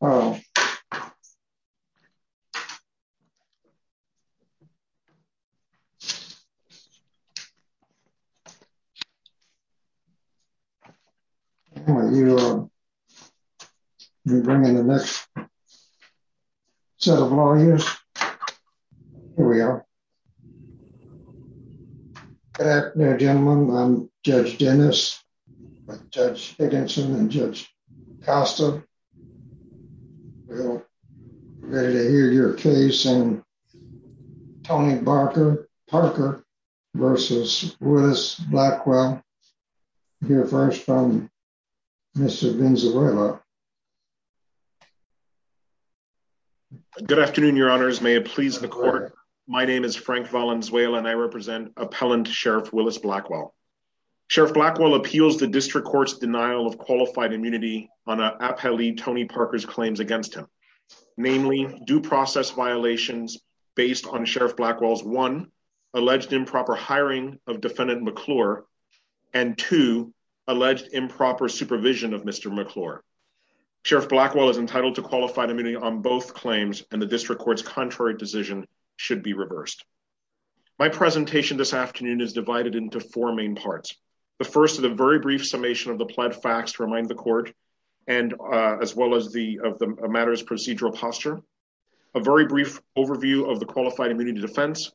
I'm going to bring in the next set of lawyers. Here we are. Good afternoon, gentlemen. I'm Judge Dennis with Judge Higginson and Judge Costa. Ready to hear your case and Tony Barker Parker versus with us. Blackwell here first from Mr. Frank Valenzuela. Good afternoon, your honors may it please the court. My name is Frank Valenzuela and I represent appellant Sheriff Willis Blackwell. Sheriff Blackwell appeals the district courts denial of qualified immunity on a pilly Tony Parker's claims against him. Namely due process violations based on Sheriff Blackwell's one alleged improper hiring of defendant McClure and to alleged improper supervision of Mr. McClure Sheriff Blackwell is entitled to qualified immunity on both claims, and the district courts contrary decision should be reversed. My presentation this afternoon is divided into four main parts. The first of the very brief summation of the plant facts remind the court, and as well as the of the matters procedural posture, a very brief overview of the qualified immunity defense.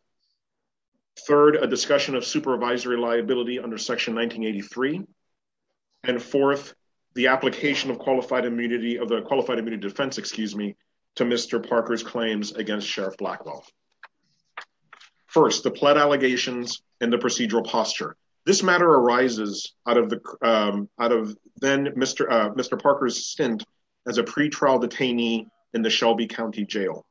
Third, a discussion of supervisory liability under section 1983. And fourth, the application of qualified immunity of the qualified immunity defense excuse me to Mr. Parker's claims against Sheriff Blackwell. First the plot allegations in the procedural posture. This matter arises out of the out of then Mr. Mr Parker's stint as a pretrial detainee in the Shelby County Jail.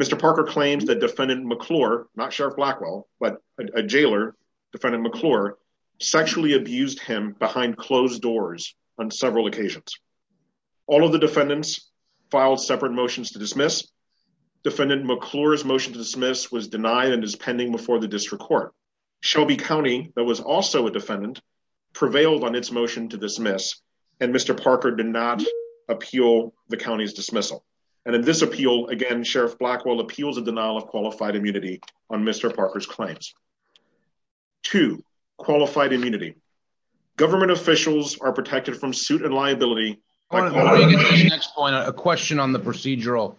Mr Parker claims that defendant McClure, not Sheriff Blackwell, but a jailer defendant McClure sexually abused him behind closed doors on several occasions. All of the defendants filed separate motions to dismiss defendant McClure his motion to dismiss was denied and is pending before the district court Shelby County, that was also a defendant prevailed on its motion to dismiss, and Mr Parker did not appeal the county's dismissal. And in this appeal again Sheriff Blackwell appeals and denial of qualified immunity on Mr Parker's claims to qualified immunity government officials are protected from suit and liability. Next point a question on the procedural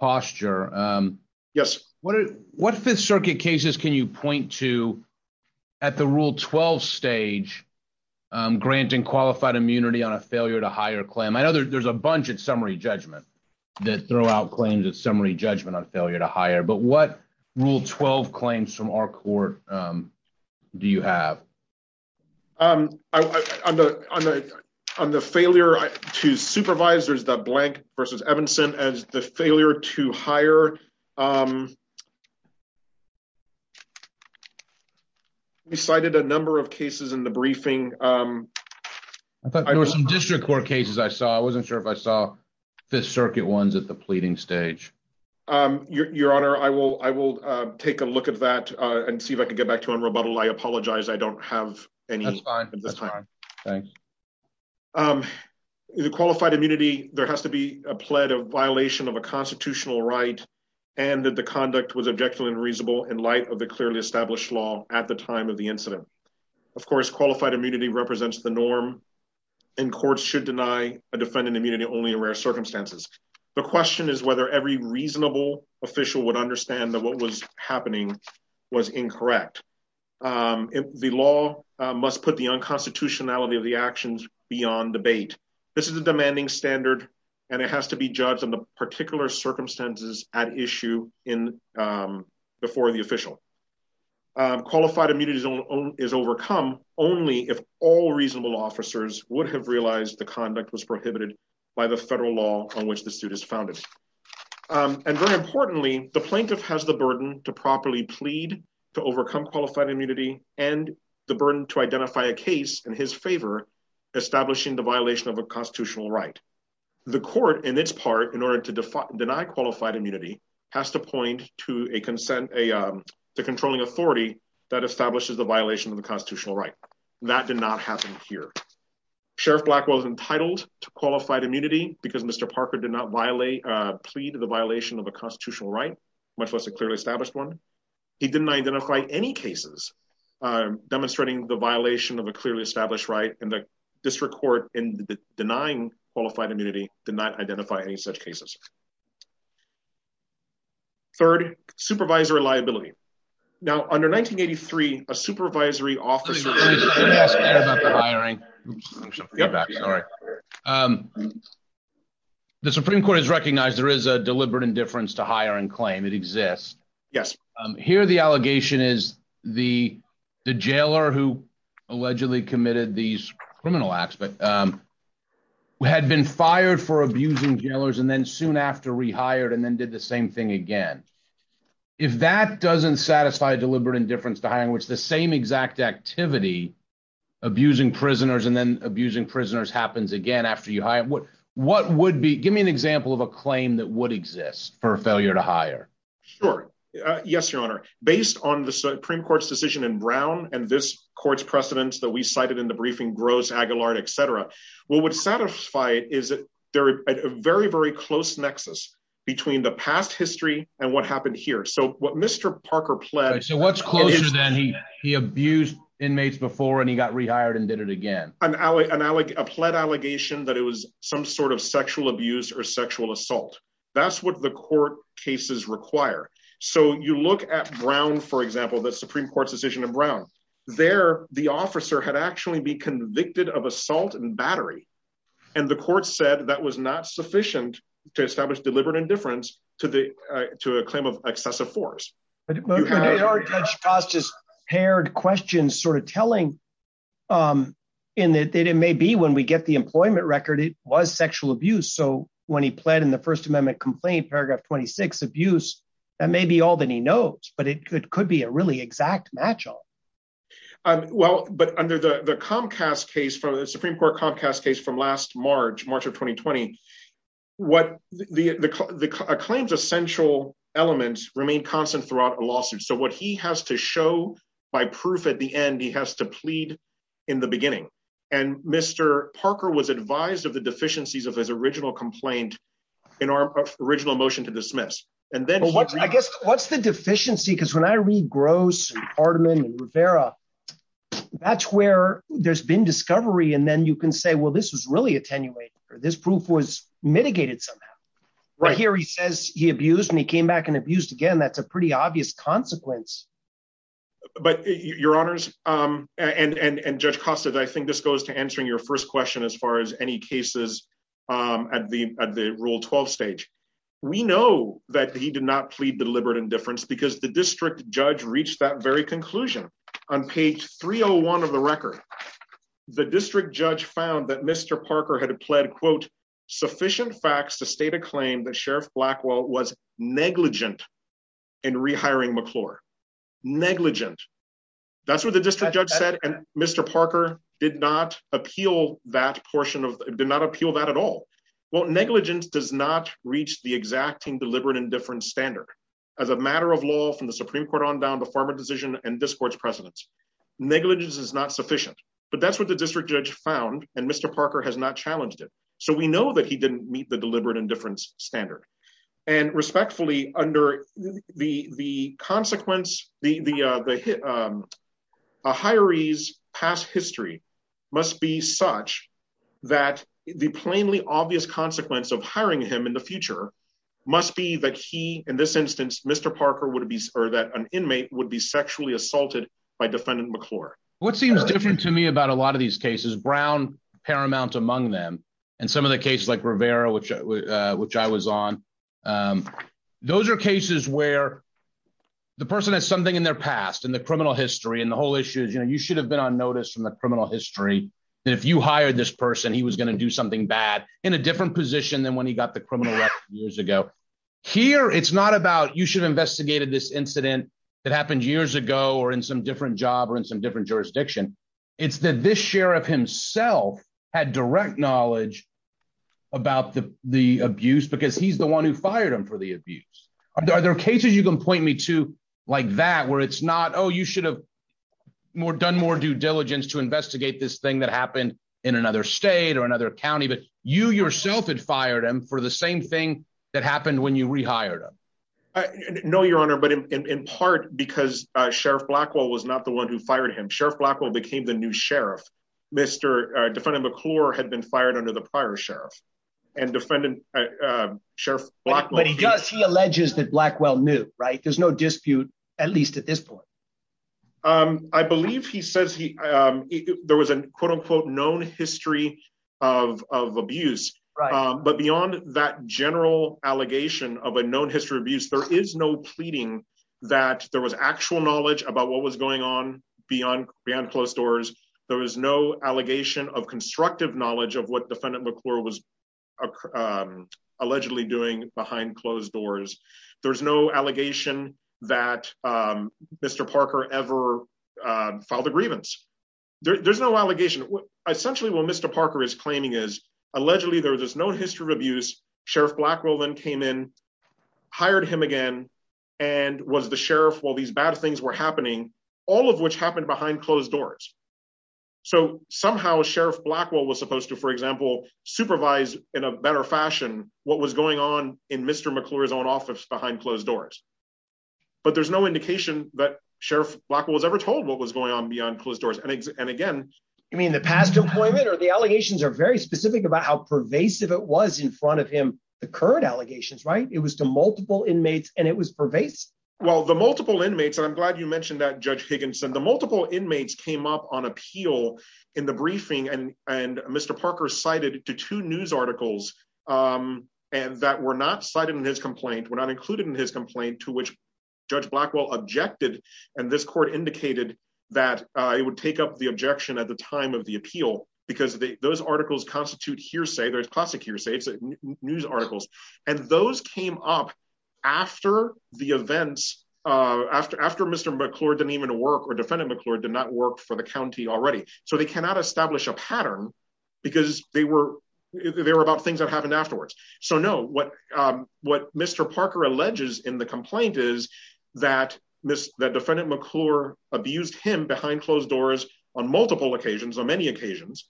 posture. Yes, what what Fifth Circuit cases Can you point to at the rule 12 stage, granting qualified immunity on a failure to hire claim I know there's a bunch of summary judgment that throw out claims that summary judgment on failure to hire but what rule 12 claims from our court. Do you have. I'm on the, on the, on the failure to supervise there's the blank versus Evanson as the failure to hire decided a number of cases in the briefing. District Court cases I saw I wasn't sure if I saw the circuit ones at the pleading stage. Your Honor, I will, I will take a look at that and see if I can get back to him rebuttal I apologize I don't have any time. Thanks. The qualified immunity, there has to be a pledge of violation of a constitutional right, and that the conduct was objective and reasonable in light of the clearly established law at the time of the incident. Of course qualified immunity represents the norm in court should deny a defendant immunity only in rare circumstances. The question is whether every reasonable official would understand that what was happening was incorrect. The law must put the unconstitutionality of the actions beyond debate. This is a demanding standard, and it has to be judged on the particular circumstances at issue in before the official qualified immunity is overcome, only if all reasonable officers would have realized the conduct was prohibited by the federal law on which the suit is founded. And very importantly, the plaintiff has the burden to properly plead to overcome qualified immunity, and the burden to identify a case in his favor, establishing the violation of a constitutional right. The court in its part in order to define deny qualified immunity has to point to a consent a controlling authority that establishes the violation of the constitutional right. That did not happen here. Sheriff black was entitled to qualified immunity, because Mr Parker did not violate a plea to the violation of a constitutional right, much less a clearly established one. He didn't identify any cases, demonstrating the violation of a clearly established right and the district court in the denying qualified immunity did not identify any such cases. Third supervisor liability. Now, under 1983, a supervisory office. Sorry. The Supreme Court has recognized there is a deliberate indifference to hire and claim it exists. Yes. Here the allegation is the jailer who allegedly committed these criminal acts but had been fired for abusing jailers and then soon after rehired and then did the same thing again. If that doesn't satisfy deliberate indifference to hiring which the same exact activity, abusing prisoners and then abusing prisoners happens again after you hire what, what would be give me an example of a claim that would exist for failure to hire. Sure. Yes, Your Honor, based on the Supreme Court's decision in Brown, and this court's precedents that we cited in the briefing grows Aguilar etc. What would satisfy, is it very, very close nexus between the past history, and what happened here so what Mr Parker So what's closer than he he abused inmates before and he got rehired and did it again, an ally and I like a plan allegation that it was some sort of sexual abuse or sexual assault. That's what the court cases require. So you look at Brown, for example, the Supreme Court's decision in Brown there, the officer had actually be convicted of assault and battery. And the court said that was not sufficient to establish deliberate indifference to the to a claim of excessive force. Just paired questions sort of telling in that it may be when we get the employment record it was sexual abuse so when he pled in the First Amendment complaint paragraph 26 abuse that may be all that he knows but it could could be a really exact match up. Well, but under the Comcast case for the Supreme Court Comcast case from last March, March of 2020. What the claims essential elements remain constant throughout a lawsuit so what he has to show by proof at the end he has to plead in the beginning, and Mr. Parker was advised of the deficiencies of his original complaint in our original motion to dismiss. And then what I guess what's the deficiency because when I read gross hardman Rivera. That's where there's been discovery and then you can say well this was really attenuated or this proof was mitigated somehow. Right here he says he abused me came back and abused again that's a pretty obvious consequence. But, Your Honors, and and and just costed I think this goes to answering your first question as far as any cases at the at the rule 12 stage. We know that he did not plead deliberate indifference because the district judge reached that very conclusion on page 301 of the record. The district judge found that Mr Parker had pled quote sufficient facts to state a claim that Sheriff Blackwell was negligent and rehiring McClure negligent. That's what the district judge said and Mr Parker did not appeal that portion of did not appeal that at all. Well negligence does not reach the exacting deliberate indifference standard. As a matter of law from the Supreme Court on down the former decision and discourse precedence negligence is not sufficient, but that's what the district judge found and Mr Parker has not challenged it. So we know that he didn't meet the deliberate indifference standard and respectfully under the the consequence, the, the, the Mr Parker would be or that an inmate would be sexually assaulted by defendant McClure, what seems different to me about a lot of these cases brown paramount among them, and some of the cases like Rivera which, which I was on. Those are cases where the person has something in their past and the criminal history and the whole issue is you know you should have been on notice from the criminal history. If you hired this person he was going to do something bad in a different position than when he got the criminal years ago. Here, it's not about you should have investigated this incident that happened years ago or in some different job or in some different thing that happened in another state or another county but you yourself had fired him for the same thing that happened when you rehired him. No, Your Honor, but in part because Sheriff Blackwell was not the one who fired him Sheriff Blackwell became the new sheriff. Mr. Defendant McClure had been fired under the prior sheriff and defendant. Sheriff, but he does he alleges that Blackwell knew right there's no dispute, at least at this point. I believe he says he. There was an quote unquote known history of abuse. But beyond that general allegation of a known history of abuse there is no pleading that there was actual knowledge about what was going on, beyond, beyond closed doors. There was, there was no allegation of constructive knowledge of what defendant McClure was allegedly doing behind closed doors. There's no allegation that Mr Parker ever filed a grievance. There's no allegation, essentially what Mr Parker is claiming is allegedly there was no history of abuse, Sheriff Blackwell then came in, hired him again. And was the sheriff while these bad things were happening, all of which happened behind closed doors. So somehow Sheriff Blackwell was supposed to, for example, supervise in a better fashion, what was going on in Mr. McClure's own office behind closed doors. But there's no indication that Sheriff Blackwell was ever told what was going on beyond closed doors and again, I mean the past deployment or the allegations are very specific about how pervasive it was in front of him, the current allegations right it was to multiple inmates, and it was pervasive. Well the multiple inmates and I'm glad you mentioned that judge Higginson the multiple inmates came up on appeal in the briefing and, and Mr Parker cited to two news articles. And that were not cited in his complaint were not included in his complaint to which judge Blackwell objected, and this court indicated that it would take up the objection at the time of the appeal, because those articles constitute hearsay there's news articles, and those came up after the events after after Mr McClure didn't even work or defendant McClure did not work for the county already, so they cannot establish a pattern, because they were, they were about things that happened afterwards. So no, what, what Mr Parker alleges in the complaint is that miss that defendant McClure abused him behind closed doors on multiple occasions on many occasions.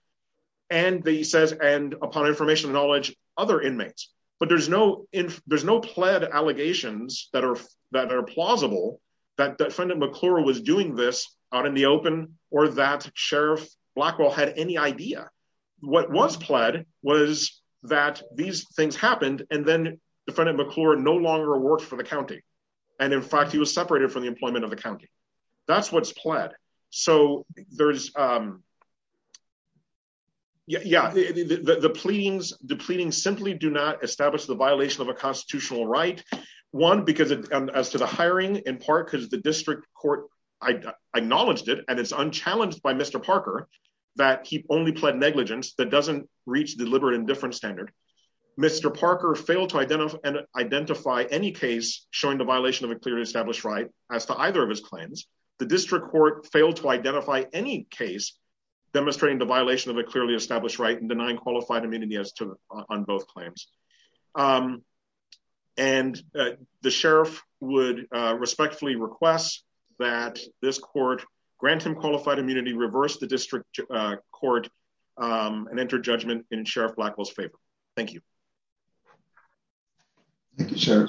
And the says and upon information knowledge, other inmates, but there's no, there's no pled allegations that are that are plausible that defendant McClure was doing this out in the open, or that Sheriff Blackwell had any idea. What was pled was that these things happened, and then defendant McClure no longer work for the county. And in fact he was separated from the employment of the county. That's what's pled. So, there's. Yeah, the pleading's depleting simply do not establish the violation of a constitutional right one because as to the hiring in part because the district court. I acknowledged it and it's unchallenged by Mr Parker that keep only pled negligence that doesn't reach deliberate indifference standard. Mr Parker failed to identify and identify any case, showing the violation of a clearly established right as to either of his claims, the district court failed to identify any case, demonstrating the violation of a clearly established right and denying qualified immunity as to on both claims. And the sheriff would respectfully request that this court grant him qualified immunity reverse the district court and enter judgment in Sheriff Blackwell's favor. Thank you. Thank you,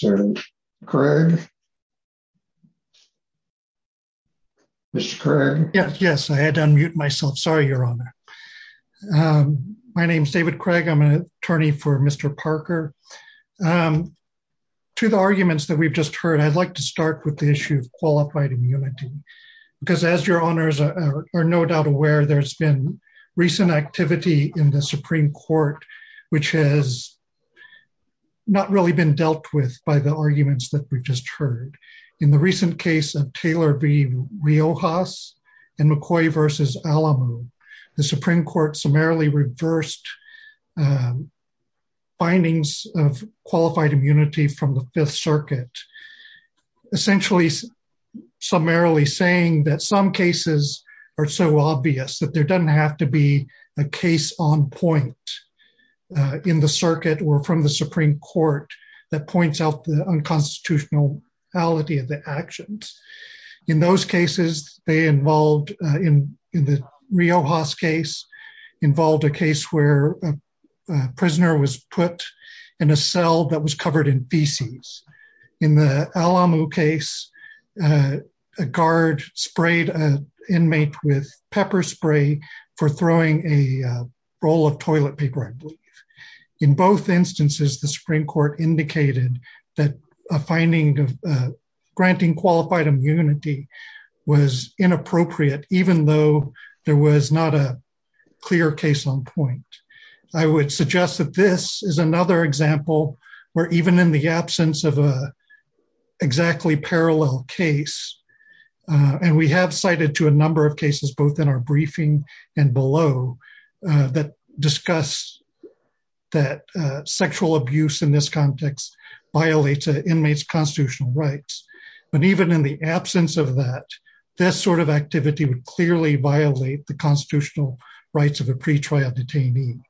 sir. Craig. Mr. Yes, yes, I had to unmute myself sorry you're on. My name is David Craig I'm an attorney for Mr Parker. To the arguments that we've just heard I'd like to start with the issue of qualified immunity, because as your honors are no doubt aware there's been recent activity in the Supreme Court, which has not really been dealt with by the arguments that we just heard. In the recent case of Taylor be real house and McCoy versus Alamo, the Supreme Court summarily reversed findings of qualified immunity from the Fifth Circuit, essentially summarily saying that some cases are so obvious that there doesn't have to be a case on point in the circuit or from the Supreme Court, that points out the unconstitutional reality of the actions. In those cases, they involved in the real house case involved a case where a prisoner was put in a cell that was covered in PCs. In the Alamo case, a guard sprayed an inmate with pepper spray for throwing a roll of toilet paper. In both instances the Supreme Court indicated that a finding of granting qualified immunity was inappropriate, even though there was not a clear case on point. I would suggest that this is another example where even in the absence of a exactly parallel case, and we have cited to a number of cases, both in our briefing and below that discuss that sexual abuse in this context violates inmates constitutional rights. But even in the absence of that, this sort of activity would clearly violate the constitutional rights of a pre trial detainee.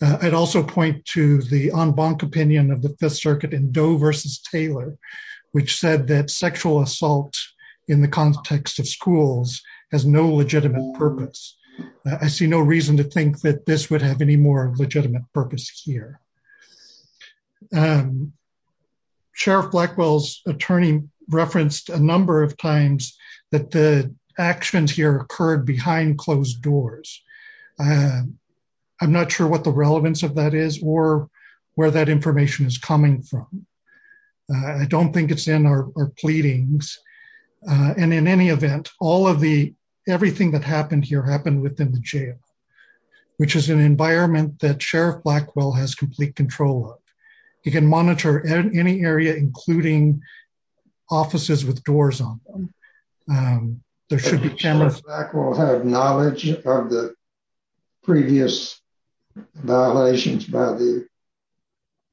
I'd also point to the on bonk opinion of the Fifth Circuit and Doe versus Taylor, which said that sexual assault in the context of schools has no legitimate purpose. I see no reason to think that this would have any more legitimate purpose here. Sheriff Blackwell's attorney referenced a number of times that the actions here occurred behind closed doors. I'm not sure what the relevance of that is or where that information is coming from. I don't think it's in our pleadings. And in any event, all of the everything that happened here happened within the jail, which is an environment that Sheriff Blackwell has complete control of. He can monitor any area, including offices with doors on. There should be cameras. Knowledge of the previous violations by the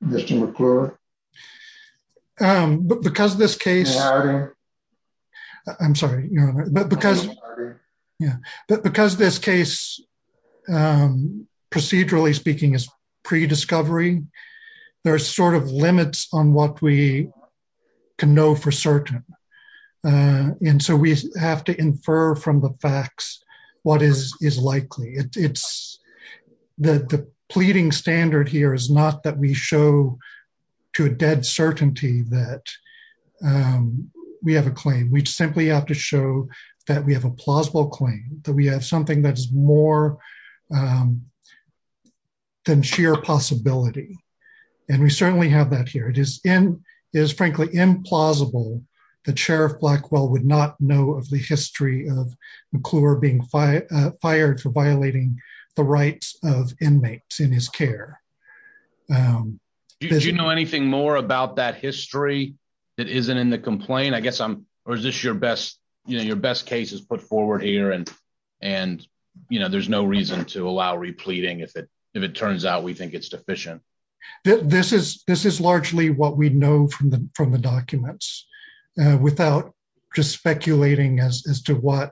Mr. Because this case. I'm sorry. Yeah, but because this case. Procedurally speaking is pre discovery. There are sort of limits on what we can know for certain. And so we have to infer from the facts. What is is likely it's the pleading standard here is not that we show to a dead certainty that We have a claim. We simply have to show that we have a plausible claim that we have something that is more Than sheer possibility and we certainly have that here. It is in is frankly implausible. The chair of Blackwell would not know of the history of McClure being fired for violating the rights of inmates in his care. You know anything more about that history that isn't in the complaint. I guess I'm or is this your best you know your best cases put forward here and and you know there's no reason to allow repleting if it if it turns out we think it's deficient. This is this is largely what we know from the from the documents without just speculating as to what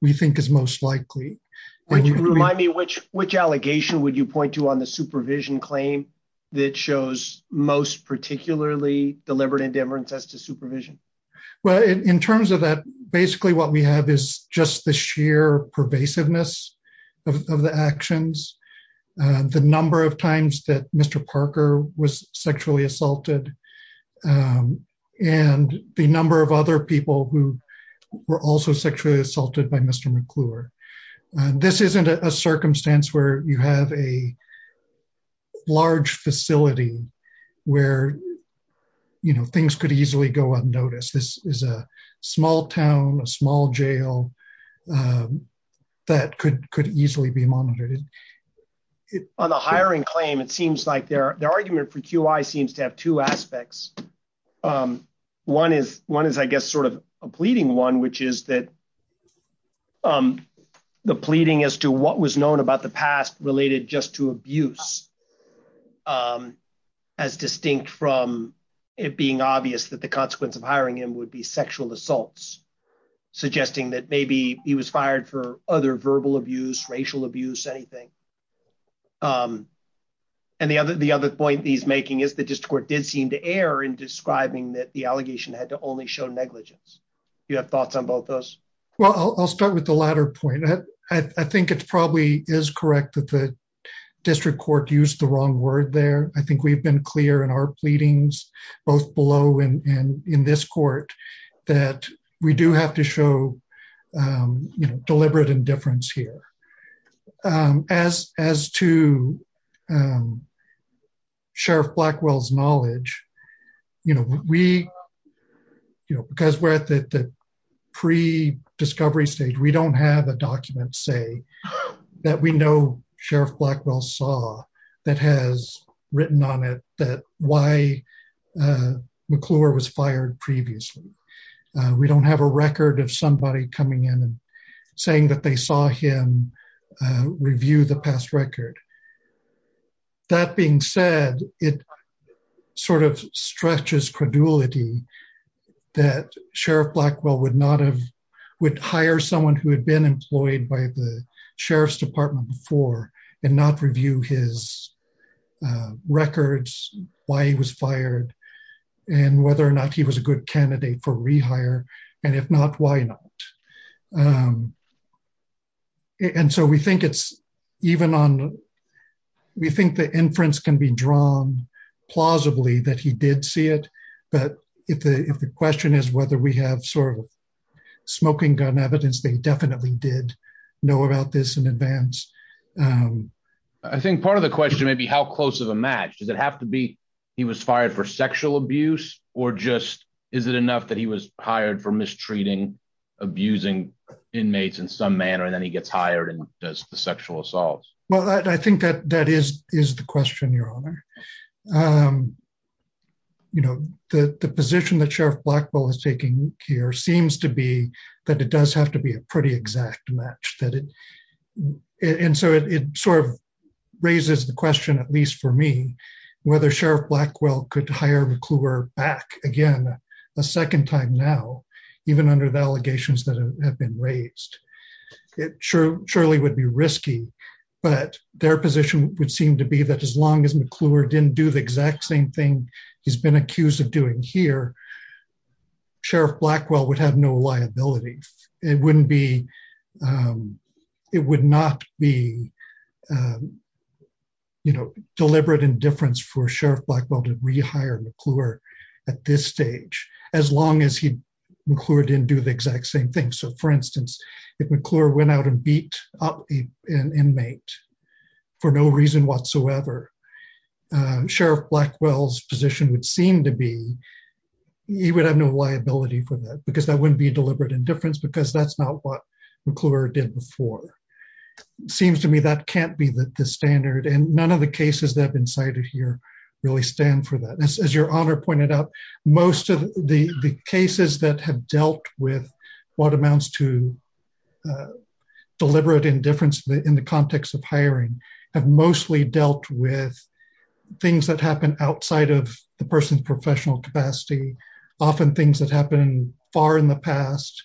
we think is most likely When you remind me which which allegation, would you point to on the supervision claim that shows most particularly deliberate indifference as to supervision. Well, in terms of that basically what we have is just the sheer pervasiveness of the actions. The number of times that Mr. Parker was sexually assaulted. And the number of other people who were also sexually assaulted by Mr. McClure. This isn't a circumstance where you have a Large facility where You know, things could easily go unnoticed. This is a small town, a small jail. That could could easily be monitored. On the hiring claim. It seems like their, their argument for QA seems to have two aspects. One is one is, I guess, sort of a pleading one, which is that The pleading as to what was known about the past related just to abuse. As distinct from it being obvious that the consequence of hiring him would be sexual assaults, suggesting that maybe he was fired for other verbal abuse racial abuse anything And the other. The other point he's making is the district court did seem to err in describing that the allegation had to only show negligence. You have thoughts on both those Well, I'll start with the latter point. I think it's probably is correct that the district court use the wrong word there. I think we've been clear in our pleadings, both below and in this court that we do have to show Deliberate indifference here. As, as to Sheriff Blackwell's knowledge, you know, we Because we're at the pre discovery stage. We don't have a document say that we know Sheriff Blackwell saw that has written on it that why McClure was fired previously. We don't have a record of somebody coming in and saying that they saw him review the past record. That being said, it sort of stretches credulity that Sheriff Blackwell would not have would hire someone who had been employed by the sheriff's department for and not review his Records why he was fired and whether or not he was a good candidate for rehire and if not, why not And so we think it's even on we think the inference can be drawn plausibly that he did see it. But if the, if the question is whether we have sort of smoking gun evidence. They definitely did know about this in advance. I think part of the question may be how close of a match. Does it have to be. He was fired for sexual abuse or just, is it enough that he was hired for mistreating abusing inmates in some manner. And then he gets hired and does the sexual assault. Well, I think that that is is the question, Your Honor. You know, the position that Sheriff Blackwell is taking care seems to be that it does have to be a pretty exact match that it. And so it sort of raises the question, at least for me, whether Sheriff Blackwell could hire McClure back again a second time now, even under the allegations that have been raised. Surely would be risky, but their position would seem to be that as long as McClure didn't do the exact same thing he's been accused of doing here. Sheriff Blackwell would have no liability. It wouldn't be. It would not be deliberate indifference for Sheriff Blackwell to rehire McClure at this stage, as long as he didn't do the exact same thing. So, for instance, if McClure went out and beat up an inmate for no reason whatsoever, Sheriff Blackwell's position would seem to be he would have no liability for that because that wouldn't be deliberate indifference because that's not what McClure did before. Seems to me that can't be the standard and none of the cases that have been cited here really stand for that. As your Honor pointed out, most of the cases that have dealt with what amounts to deliberate indifference in the context of hiring have mostly dealt with things that happen outside of the person's professional capacity. Often things that happened far in the past,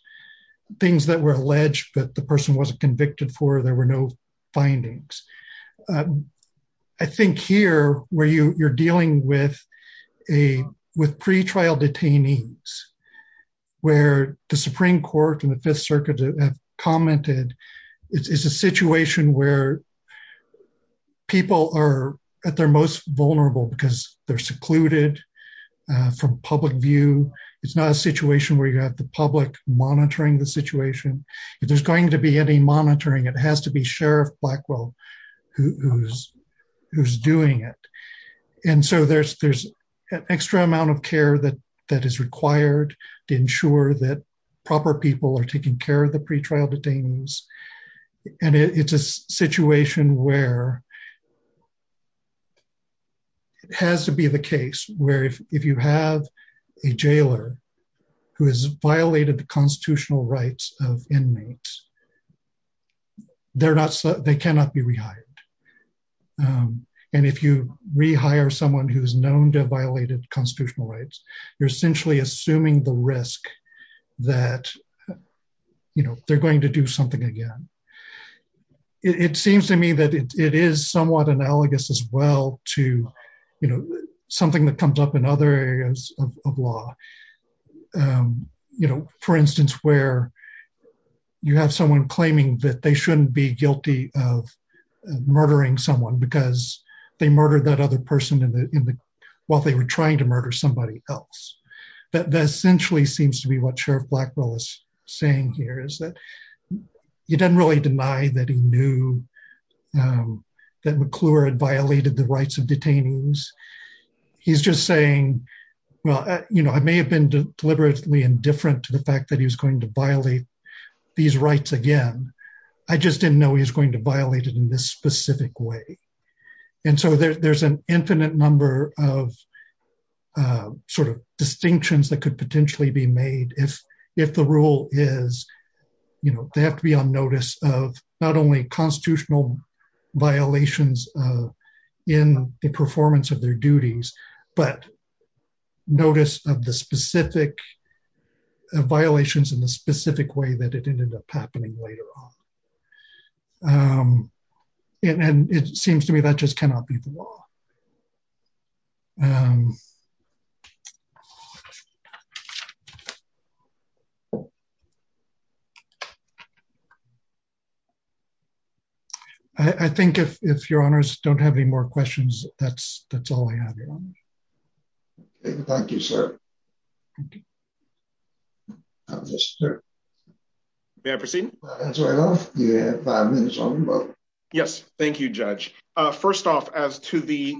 things that were alleged that the person wasn't convicted for, there were no findings. I think here where you're dealing with pre-trial detainees, where the Supreme Court and the Fifth Circuit have commented, it's a situation where people are at their most vulnerable because they're secluded from public view. It's not a situation where you have the public monitoring the situation. If there's going to be any monitoring, it has to be Sheriff Blackwell who's doing it. And so there's an extra amount of care that is required to ensure that proper people are taking care of the pre-trial detainees. And it's a situation where it has to be the case where if you have a jailer who has violated the constitutional rights of inmates, they cannot be rehired. And if you rehire someone who's known to have violated constitutional rights, you're essentially assuming the risk that they're going to do something again. It seems to me that it is somewhat analogous as well to something that comes up in other areas of law. For instance, where you have someone claiming that they shouldn't be guilty of murdering someone because they murdered that other person while they were trying to murder somebody else. That essentially seems to be what Sheriff Blackwell is saying here, is that he doesn't really deny that he knew that McClure had violated the rights of detainees. He's just saying, well, I may have been deliberately indifferent to the fact that he was going to violate these rights again. I just didn't know he was going to violate it in this specific way. And so there's an infinite number of sort of distinctions that could potentially be made if the rule is, you know, they have to be on notice of not only constitutional violations in the performance of their duties, but notice of the specific violations in the specific way that it ended up happening later on. And it seems to me that just cannot be the law. I think if your Honours don't have any more questions, that's all I have. Thank you, sir. May I proceed? Yes, thank you, Judge. First off, as to the,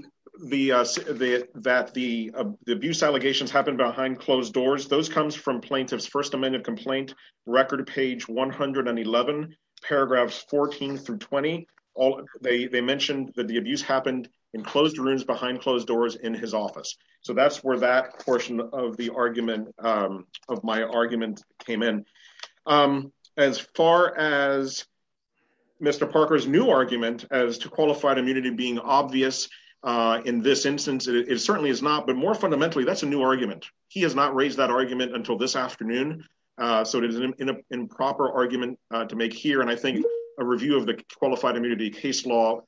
that the abuse allegations happened behind closed doors, those comes from Plaintiff's First Amendment complaint, Record Page 111, Paragraphs 14 through 20. They mentioned that the abuse happened in closed rooms behind closed doors in his office. So that's where that portion of the argument, of my argument came in. As far as Mr. Parker's new argument as to qualified immunity being obvious in this instance, it certainly is not. But more fundamentally, that's a new argument. He has not raised that argument until this afternoon. So it is an improper argument to make here. And I think a review of the qualified immunity case law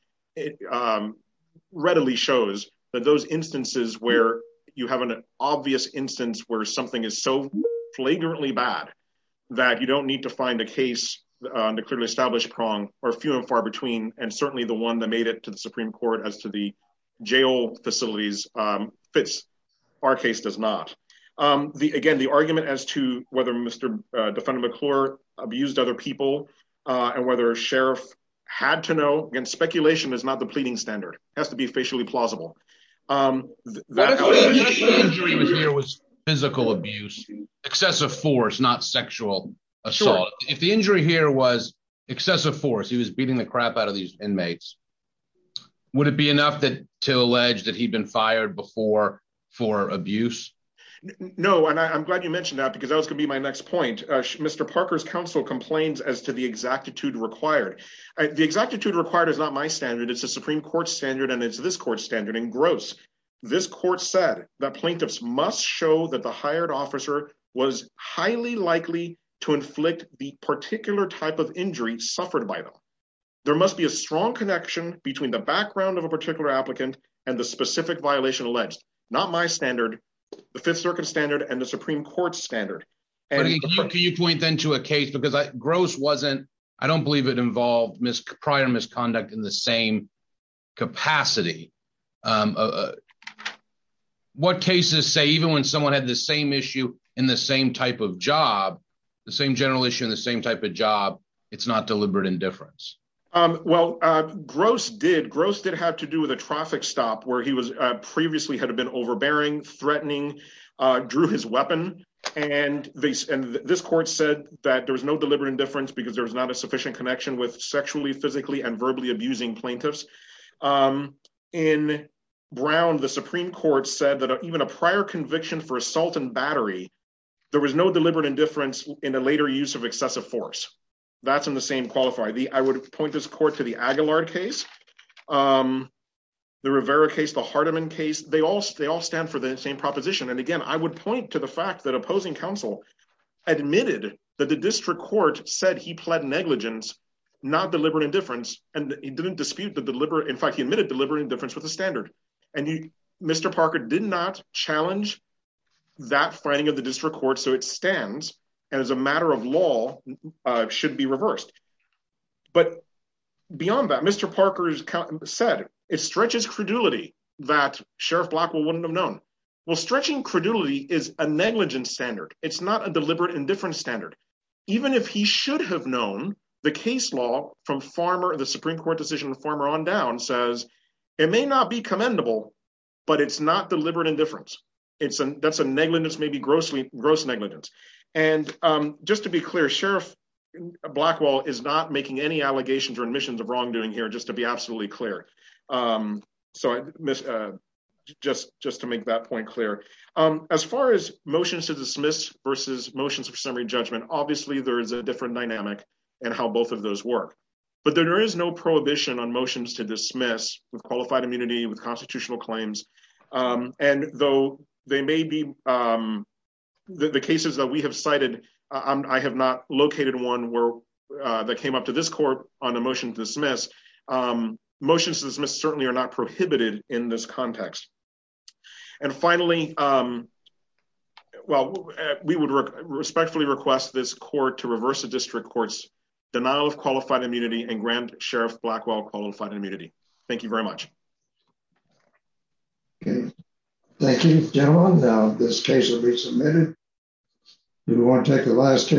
readily shows that those instances where you have an obvious instance where something is so flagrantly bad that you don't need to find a case on the clearly established prong or few and far between. And certainly the one that made it to the Supreme Court as to the jail facilities fits. Our case does not. Again, the argument as to whether Mr. Defendant McClure abused other people, and whether a sheriff had to know, again, speculation is not the pleading standard. It has to be facially plausible. What if the injury here was physical abuse, excessive force, not sexual assault? If the injury here was excessive force, he was beating the crap out of these inmates. Would it be enough to allege that he'd been fired before for abuse? No, and I'm glad you mentioned that because that was going to be my next point. Mr. Parker's counsel complains as to the exactitude required. The exactitude required is not my standard. It's a Supreme Court standard, and it's this court standard. And gross. This court said that plaintiffs must show that the hired officer was highly likely to inflict the particular type of injury suffered by them. There must be a strong connection between the background of a particular applicant and the specific violation alleged. Not my standard. The Fifth Circuit standard and the Supreme Court standard. Can you point then to a case because gross wasn't, I don't believe it involved prior misconduct in the same capacity. What cases say even when someone had the same issue in the same type of job, the same general issue in the same type of job, it's not deliberate indifference. Well, gross did. Gross did have to do with a traffic stop where he was previously had been overbearing, threatening, drew his weapon. And this court said that there was no deliberate indifference because there was not a sufficient connection with sexually, physically and verbally abusing plaintiffs. In Brown, the Supreme Court said that even a prior conviction for assault and battery. There was no deliberate indifference in a later use of excessive force. That's in the same qualifier. I would point this court to the Aguilar case, the Rivera case, the Hardiman case. They all stand for the same proposition. And again, I would point to the fact that opposing counsel admitted that the district court said he pled negligence, not deliberate indifference. And he didn't dispute the deliberate. In fact, he admitted deliberate indifference with the standard. And Mr. Parker did not challenge that finding of the district court. So it stands as a matter of law should be reversed. But beyond that, Mr. Parker said it stretches credulity that Sheriff Blackwell wouldn't have known. Well, stretching credulity is a negligent standard. It's not a deliberate indifference standard. Even if he should have known the case law from farmer, the Supreme Court decision, the farmer on down says it may not be commendable, but it's not deliberate indifference. It's a that's a negligence, maybe grossly gross negligence. And just to be clear, Sheriff Blackwell is not making any allegations or admissions of wrongdoing here, just to be absolutely clear. So just just to make that point clear, as far as motions to dismiss versus motions of summary judgment, obviously, there is a different dynamic and how both of those work. But there is no prohibition on motions to dismiss with qualified immunity with constitutional claims. And though they may be the cases that we have cited. I have not located one where that came up to this court on a motion to dismiss motions to dismiss certainly are not prohibited in this context. And finally, well, we would respectfully request this court to reverse the district courts denial of qualified immunity and Grand Sheriff Blackwell qualified immunity. Thank you very much. Thank you, gentlemen. Now, this case will be submitted. You want to take the last.